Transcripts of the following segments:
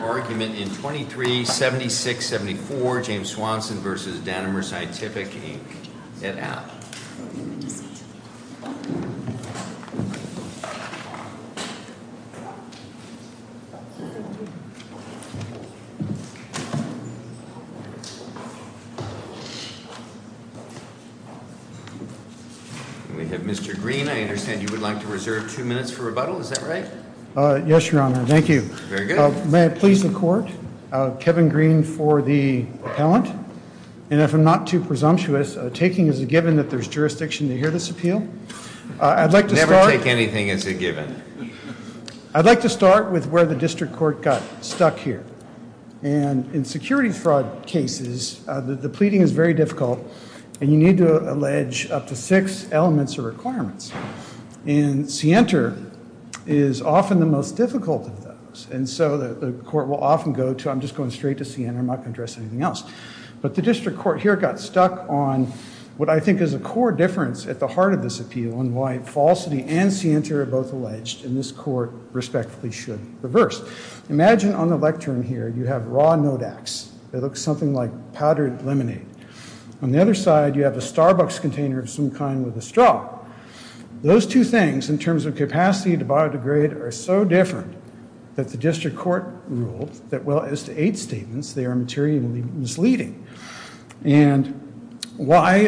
Argument in 23-76-74 James Swanson vs. Danimer Scientific, Inc. at ALP. We have Mr. Green. I understand you would like to reserve two minutes for rebuttal, is that right? Yes, Your Honor. Thank you. May I please the court? Kevin Green for the appellant. And if I'm not too presumptuous, taking as a given that there's jurisdiction to hear this appeal. Never take anything as a given. I'd like to start with where the district court got stuck here. And in security fraud cases, the pleading is very difficult, and you need to allege up to six elements or requirements. And scienter is often the most difficult of those. And so the court will often go to, I'm just going straight to scienter, I'm not going to address anything else. But the district court here got stuck on what I think is a core difference at the heart of this appeal and why falsity and scienter are both alleged. And this court respectfully should reverse. Imagine on the lectern here you have raw Nodax. It looks something like powdered lemonade. On the other side, you have a Starbucks container of some kind with a straw. Those two things, in terms of capacity to biodegrade, are so different that the district court ruled that, well, as to eight statements, they are materially misleading. And why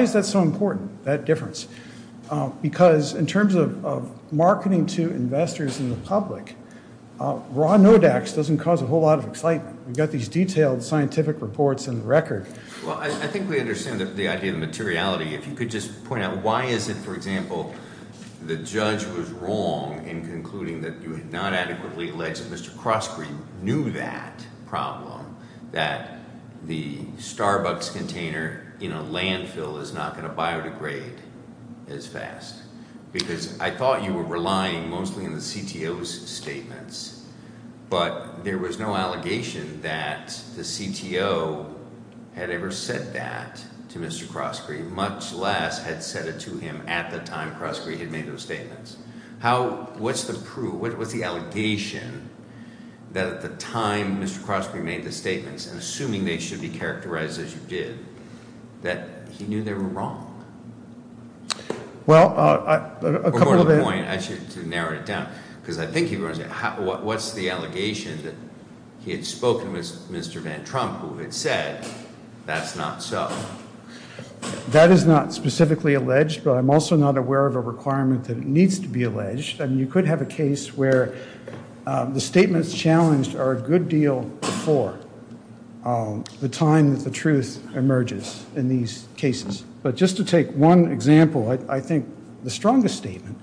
is that so important, that difference? Because in terms of marketing to investors and the public, raw Nodax doesn't cause a whole lot of excitement. We've got these detailed scientific reports in the record. Well, I think we understand the idea of materiality. If you could just point out, why is it, for example, the judge was wrong in concluding that you had not adequately alleged that Mr. Crossgreen knew that problem, that the Starbucks container in a landfill is not going to biodegrade as fast? Because I thought you were relying mostly on the CTO's statements, but there was no allegation that the CTO had ever said that to Mr. Crossgreen, much less had said it to him at the time Crossgreen had made those statements. What's the proof? What was the allegation that at the time Mr. Crossgreen made the statements, and assuming they should be characterized as you did, that he knew they were wrong? Well, a couple of- To narrow it down, because I think he was, what's the allegation that he had spoken with Mr. Van Trump, who had said that's not so? That is not specifically alleged, but I'm also not aware of a requirement that it needs to be alleged. And you could have a case where the statements challenged are a good deal for the time that the truth emerges in these cases. But just to take one example, I think the strongest statement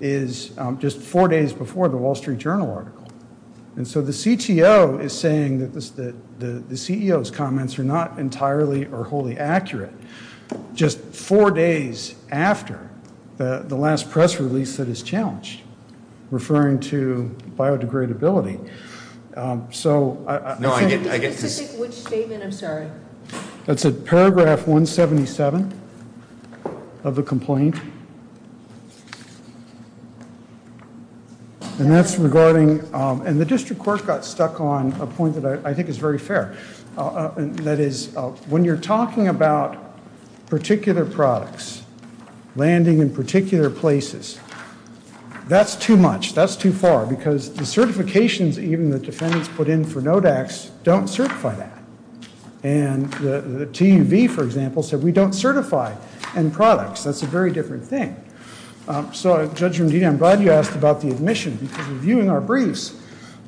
is just four days before the Wall Street Journal article. And so the CTO is saying that the CEO's comments are not entirely or wholly accurate, just four days after the last press release that is challenged, referring to biodegradability. So- No, I get- Which statement, I'm sorry? That's a paragraph 177 of the complaint. And that's regarding, and the district court got stuck on a point that I think is very fair. That is, when you're talking about particular products landing in particular places, that's too much. That's too far, because the certifications even the defendants put in for NODACs don't certify that. And the TUV, for example, said we don't certify end products. That's a very different thing. So, Judge Romdini, I'm glad you asked about the admission, because reviewing our briefs,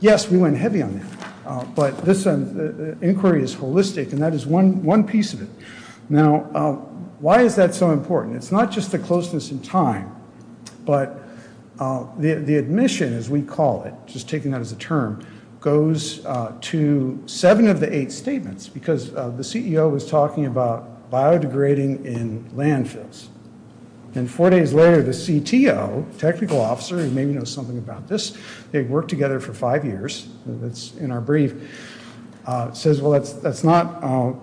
yes, we went heavy on that. But this inquiry is holistic, and that is one piece of it. Now, why is that so important? It's not just the closeness in time, but the admission, as we call it, just taking that as a term, goes to seven of the eight statements, because the CEO was talking about biodegrading in landfills. And four days later, the CTO, technical officer, who maybe knows something about this, they've worked together for five years, that's in our brief, says, well, that's not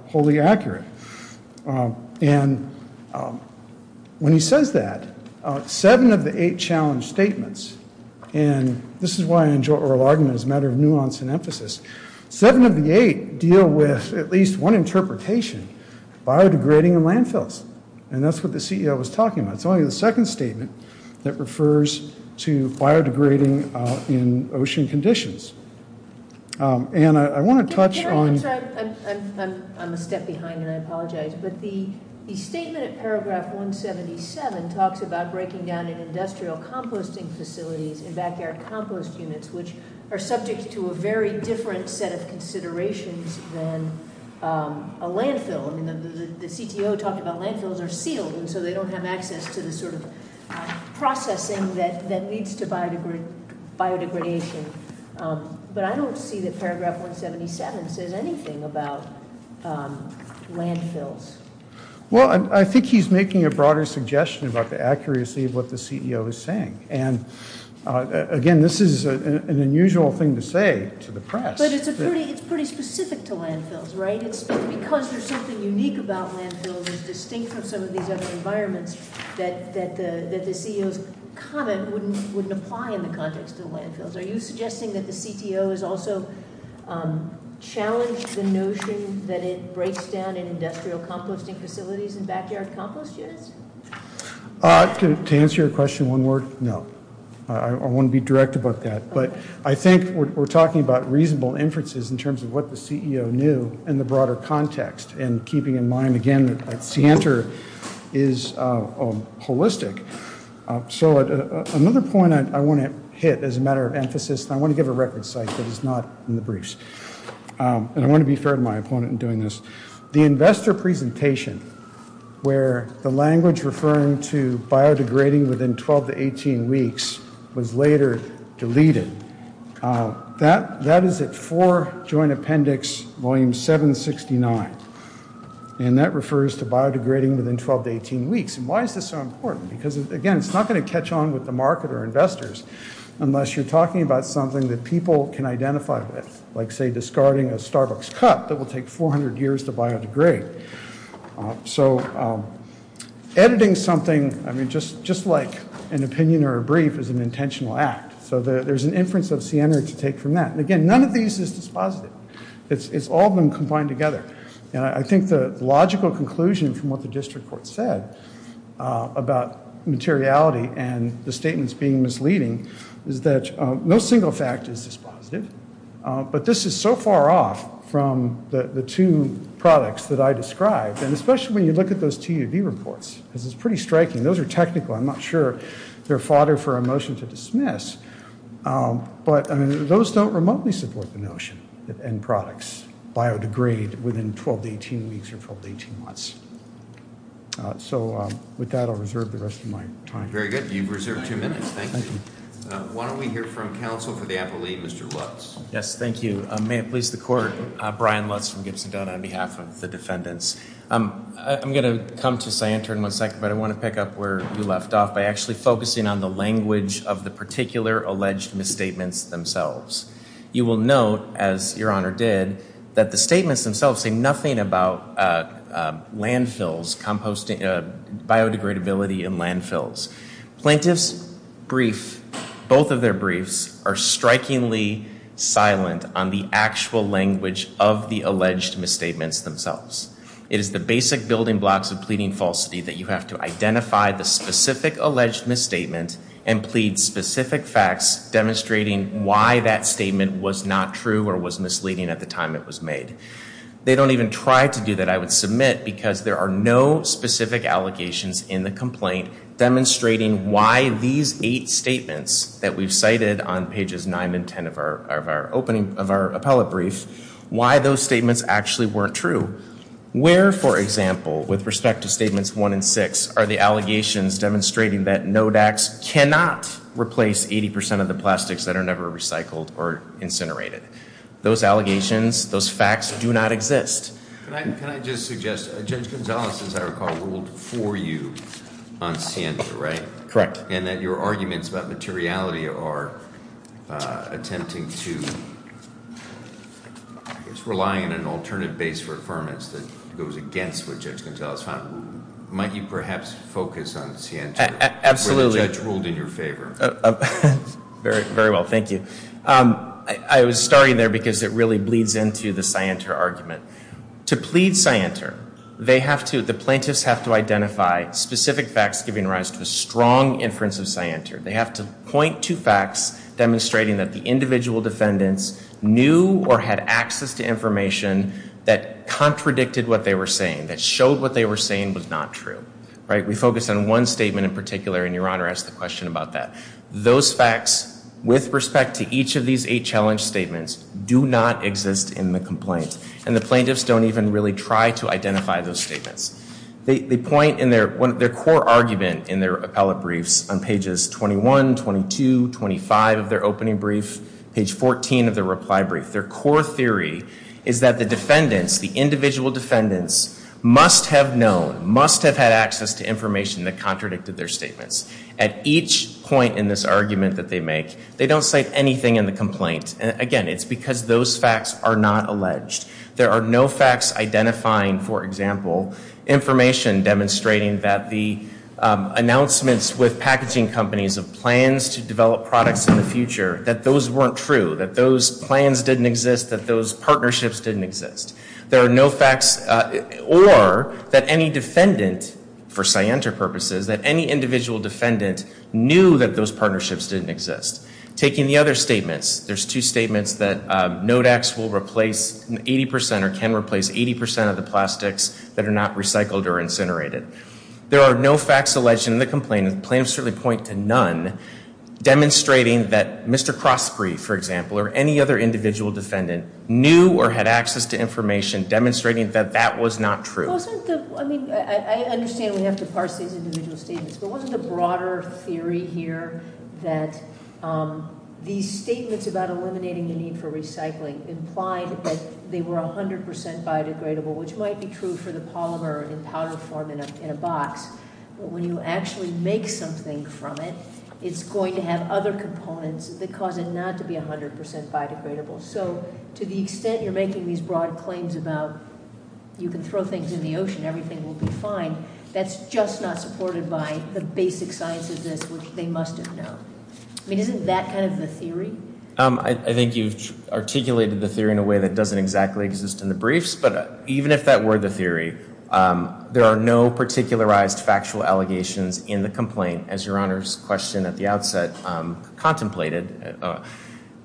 wholly accurate. And when he says that, seven of the eight challenge statements, and this is why I enjoy oral argument as a matter of nuance and emphasis, seven of the eight deal with at least one interpretation, biodegrading in landfills. And that's what the CEO was talking about. It's only the second statement that refers to biodegrading in ocean conditions. Anne, I want to touch on- I'm sorry, I'm a step behind, and I apologize. But the statement in paragraph 177 talks about breaking down in industrial composting facilities and back air compost units, which are subject to a very different set of considerations than a landfill. I mean, the CTO talked about landfills are sealed, so they don't have access to the sort of processing that leads to biodegradation. But I don't see that paragraph 177 says anything about landfills. Well, I think he's making a broader suggestion about the accuracy of what the CEO is saying. And, again, this is an unusual thing to say to the press. But it's pretty specific to landfills, right? Because there's something unique about landfills, distinct from some of these other environments, that the CEO's comment wouldn't apply in the context of landfills. Are you suggesting that the CTO has also challenged the notion that it breaks down in industrial composting facilities and back yard compost units? To answer your question one word, no. I want to be direct about that. But I think we're talking about reasonable inferences in terms of what the CEO knew in the broader context and keeping in mind, again, that CANTOR is holistic. So another point I want to hit as a matter of emphasis, and I want to give a record site that is not in the briefs, and I want to be fair to my opponent in doing this, the investor presentation where the language referring to biodegrading within 12 to 18 weeks was later deleted. That is at 4 Joint Appendix Volume 769. And that refers to biodegrading within 12 to 18 weeks. And why is this so important? Because, again, it's not going to catch on with the market or investors unless you're talking about something that people can identify with, like, say, discarding a Starbucks cup that will take 400 years to biodegrade. So editing something, I mean, just like an opinion or a brief is an intentional act. So there's an inference of CANTOR to take from that. And, again, none of these is dispositive. It's all of them combined together. And I think the logical conclusion from what the district court said about materiality and the statements being misleading is that no single fact is dispositive. But this is so far off from the two products that I described, and especially when you look at those TUV reports. This is pretty striking. Those are technical. I'm not sure they're fodder for a motion to dismiss. But, I mean, those don't remotely support the notion that end products biodegrade within 12 to 18 weeks or 12 to 18 months. So with that, I'll reserve the rest of my time. Very good. You've reserved two minutes. Thank you. Why don't we hear from counsel for the appellee, Mr. Lutz. Yes, thank you. May it please the court. Brian Lutz from Gibson-Dunn on behalf of the defendants. I'm going to come to CANTOR in one second, but I want to pick up where you left off by actually focusing on the language of the particular alleged misstatements themselves. You will note, as Your Honor did, that the statements themselves say nothing about landfills, biodegradability in landfills. Plaintiffs' brief, both of their briefs, are strikingly silent on the actual language of the alleged misstatements themselves. It is the basic building blocks of pleading falsity that you have to identify the specific alleged misstatement and plead specific facts demonstrating why that statement was not true or was misleading at the time it was made. They don't even try to do that, I would submit, because there are no specific allegations in the complaint demonstrating why these eight statements that we've cited on pages nine and ten of our appellate brief, why those statements actually weren't true. Where, for example, with respect to statements one and six, are the allegations demonstrating that NODACs cannot replace 80% of the plastics that are never recycled or incinerated? Those allegations, those facts, do not exist. Can I just suggest, Judge Gonzales, as I recall, ruled for you on Sienta, right? Correct. And that your arguments about materiality are attempting to, I guess, relying on an alternative base for affirmance that goes against what Judge Gonzales found. Might you perhaps focus on Sienta? Absolutely. Where the judge ruled in your favor. Very well, thank you. I was starting there because it really bleeds into the Sienta argument. To plead Sienta, the plaintiffs have to identify specific facts giving rise to a strong inference of Sienta. They have to point to facts demonstrating that the individual defendants knew or had access to information that contradicted what they were saying, that showed what they were saying was not true. We focus on one statement in particular, and your Honor asked the question about that. Those facts, with respect to each of these eight challenge statements, do not exist in the complaint. And the plaintiffs don't even really try to identify those statements. They point in their core argument in their appellate briefs on pages 21, 22, 25 of their opening brief, page 14 of their reply brief. Their core theory is that the defendants, the individual defendants, must have known, must have had access to information that contradicted their statements. At each point in this argument that they make, they don't cite anything in the complaint. Again, it's because those facts are not alleged. There are no facts identifying, for example, information demonstrating that the announcements with packaging companies of plans to develop products in the future, that those weren't true, that those plans didn't exist, that those partnerships didn't exist. There are no facts, or that any defendant, for scienter purposes, that any individual defendant knew that those partnerships didn't exist. Taking the other statements, there's two statements that NODACs will replace 80% or can replace 80% of the plastics that are not recycled or incinerated. There are no facts alleged in the complaint. The plaintiffs certainly point to none demonstrating that Mr. Crosbury, for example, or any other individual defendant knew or had access to information demonstrating that that was not true. I understand we have to parse these individual statements, but wasn't the broader theory here that these statements about eliminating the need for recycling implied that they were 100% biodegradable, which might be true for the polymer in powder form in a box, but when you actually make something from it, it's going to have other components that cause it not to be 100% biodegradable. So to the extent you're making these broad claims about you can throw things in the ocean, everything will be fine, that's just not supported by the basic science of this, which they must have known. I mean, isn't that kind of the theory? I think you've articulated the theory in a way that doesn't exactly exist in the briefs, but even if that were the theory, there are no particularized factual allegations in the complaint, as Your Honor's question at the outset contemplated.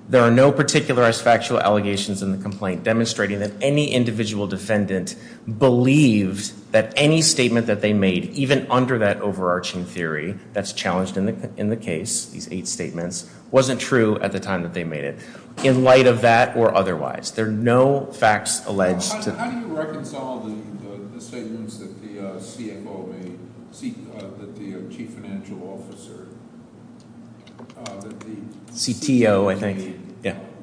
There are no particularized factual allegations in the complaint demonstrating that any individual defendant believed that any statement that they made, even under that overarching theory that's challenged in the case, these eight statements, wasn't true at the time that they made it, in light of that or otherwise. There are no facts alleged. How do you reconcile the statements that the CFO made, that the chief financial officer, that the CTO made,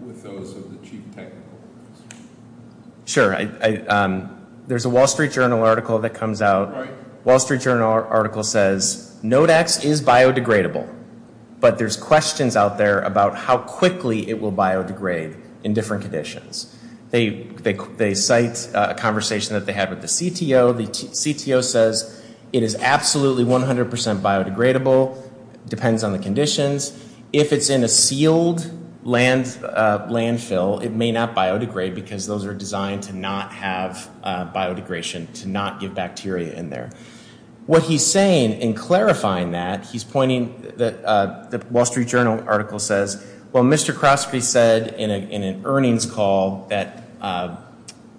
with those of the chief technical officer? Sure. There's a Wall Street Journal article that comes out. Wall Street Journal article says, Nodex is biodegradable, but there's questions out there about how quickly it will biodegrade in different conditions. They cite a conversation that they had with the CTO. The CTO says it is absolutely 100% biodegradable, depends on the conditions. If it's in a sealed landfill, it may not biodegrade, because those are designed to not have biodegration, to not give bacteria in there. What he's saying in clarifying that, he's pointing, the Wall Street Journal article says, Well, Mr. Kroski said in an earnings call that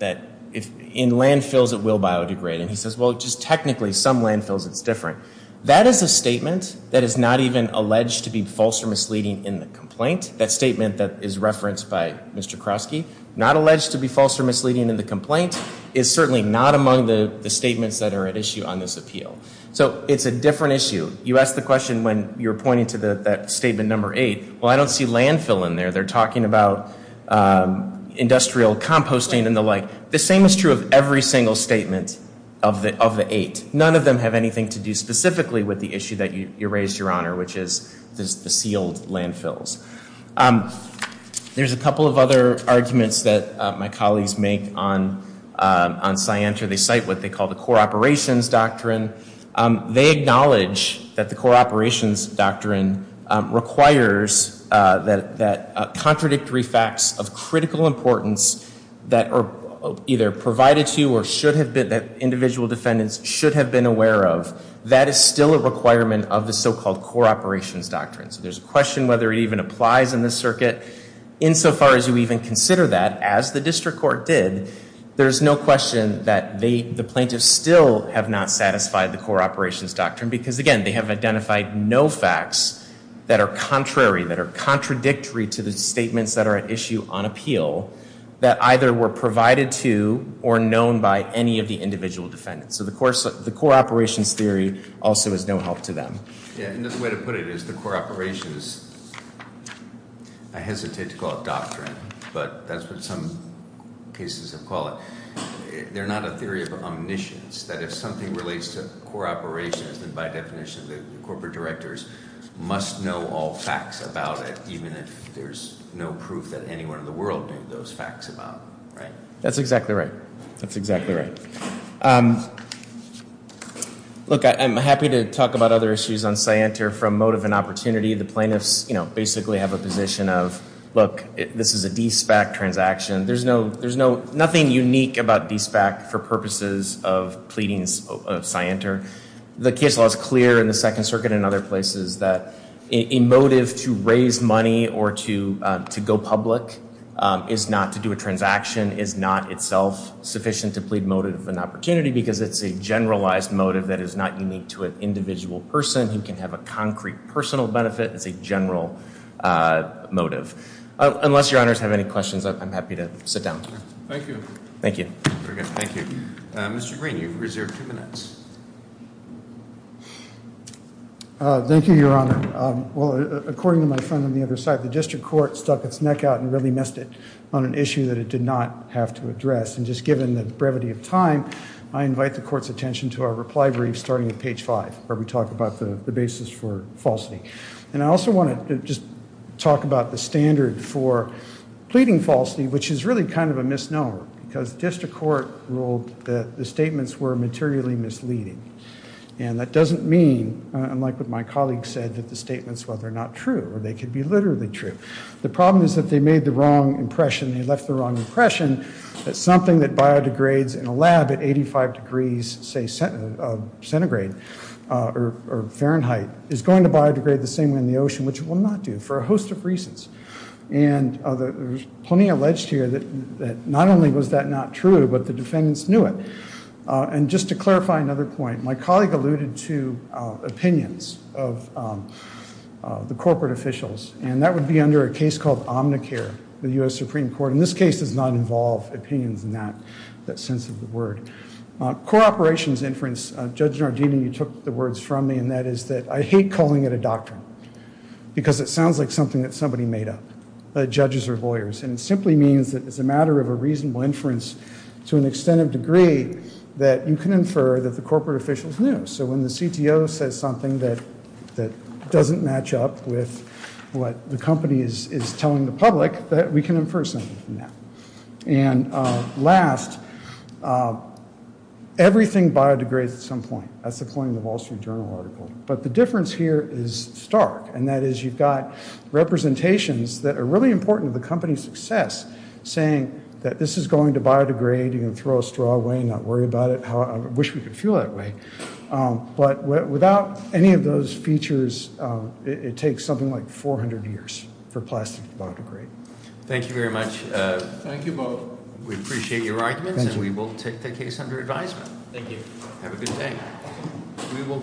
in landfills it will biodegrade. And he says, well, just technically, some landfills it's different. That is a statement that is not even alleged to be false or misleading in the complaint. That statement that is referenced by Mr. Kroski, not alleged to be false or misleading in the complaint, is certainly not among the statements that are at issue on this appeal. So it's a different issue. You asked the question when you were pointing to that statement number eight. Well, I don't see landfill in there. They're talking about industrial composting and the like. The same is true of every single statement of the eight. None of them have anything to do specifically with the issue that you raised, Your Honor, which is the sealed landfills. There's a couple of other arguments that my colleagues make on Scientra. They cite what they call the core operations doctrine. They acknowledge that the core operations doctrine requires that contradictory facts of critical importance that are either provided to or should have been, that individual defendants should have been aware of, that is still a requirement of the so-called core operations doctrine. So there's a question whether it even applies in this circuit. Insofar as you even consider that, as the district court did, there's no question that the plaintiffs still have not satisfied the core operations doctrine because, again, they have identified no facts that are contrary, that are contradictory to the statements that are at issue on appeal that either were provided to or known by any of the individual defendants. So the core operations theory also is no help to them. The way to put it is the core operations, I hesitate to call it doctrine, but that's what some cases have called it. They're not a theory of omniscience, that if something relates to core operations, then by definition the corporate directors must know all facts about it, even if there's no proof that anyone in the world knew those facts about it, right? That's exactly right. That's exactly right. Look, I'm happy to talk about other issues on scienter from motive and opportunity. The plaintiffs basically have a position of, look, this is a DSPAC transaction. There's nothing unique about DSPAC for purposes of pleadings of scienter. The case law is clear in the Second Circuit and other places that a motive to raise money or to go public is not to do a transaction, is not itself sufficient to plead motive and opportunity because it's a generalized motive that is not unique to an individual person who can have a concrete personal benefit. It's a general motive. Unless your honors have any questions, I'm happy to sit down. Thank you. Thank you. Very good. Thank you. Mr. Green, you've reserved two minutes. Thank you, Your Honor. Well, according to my friend on the other side, the district court stuck its neck out and really missed it on an issue that it did not have to address. And just given the brevity of time, I invite the court's attention to our reply brief starting at page five, where we talk about the basis for falsity. And I also want to just talk about the standard for pleading falsity, which is really kind of a misnomer because district court ruled that the statements were materially misleading. And that doesn't mean, unlike what my colleague said, that the statements were not true or they could be literally true. The problem is that they made the wrong impression, they left the wrong impression, that something that biodegrades in a lab at 85 degrees, say centigrade or Fahrenheit, is going to biodegrade the same way in the ocean, which it will not do for a host of reasons. And there's plenty alleged here that not only was that not true, but the defendants knew it. And just to clarify another point, my colleague alluded to opinions of the corporate officials, and that would be under a case called Omnicare, the U.S. Supreme Court. And this case does not involve opinions in that sense of the word. Co-operations inference, Judge Nardini, you took the words from me, and that is that I hate calling it a doctrine because it sounds like something that somebody made up, judges or lawyers. And it simply means that it's a matter of a reasonable inference to an extent of degree that you can infer that the corporate officials knew. So when the CTO says something that doesn't match up with what the company is telling the public, that we can infer something from that. And last, everything biodegrades at some point. That's the point of the Wall Street Journal article. But the difference here is stark, and that is you've got representations that are really important to the company's success, saying that this is going to biodegrade. You can throw a straw away and not worry about it. I wish we could feel that way. But without any of those features, it takes something like 400 years for plastic to biodegrade. Thank you very much. Thank you both. We appreciate your arguments, and we will take the case under advisement. Thank you. Have a good day.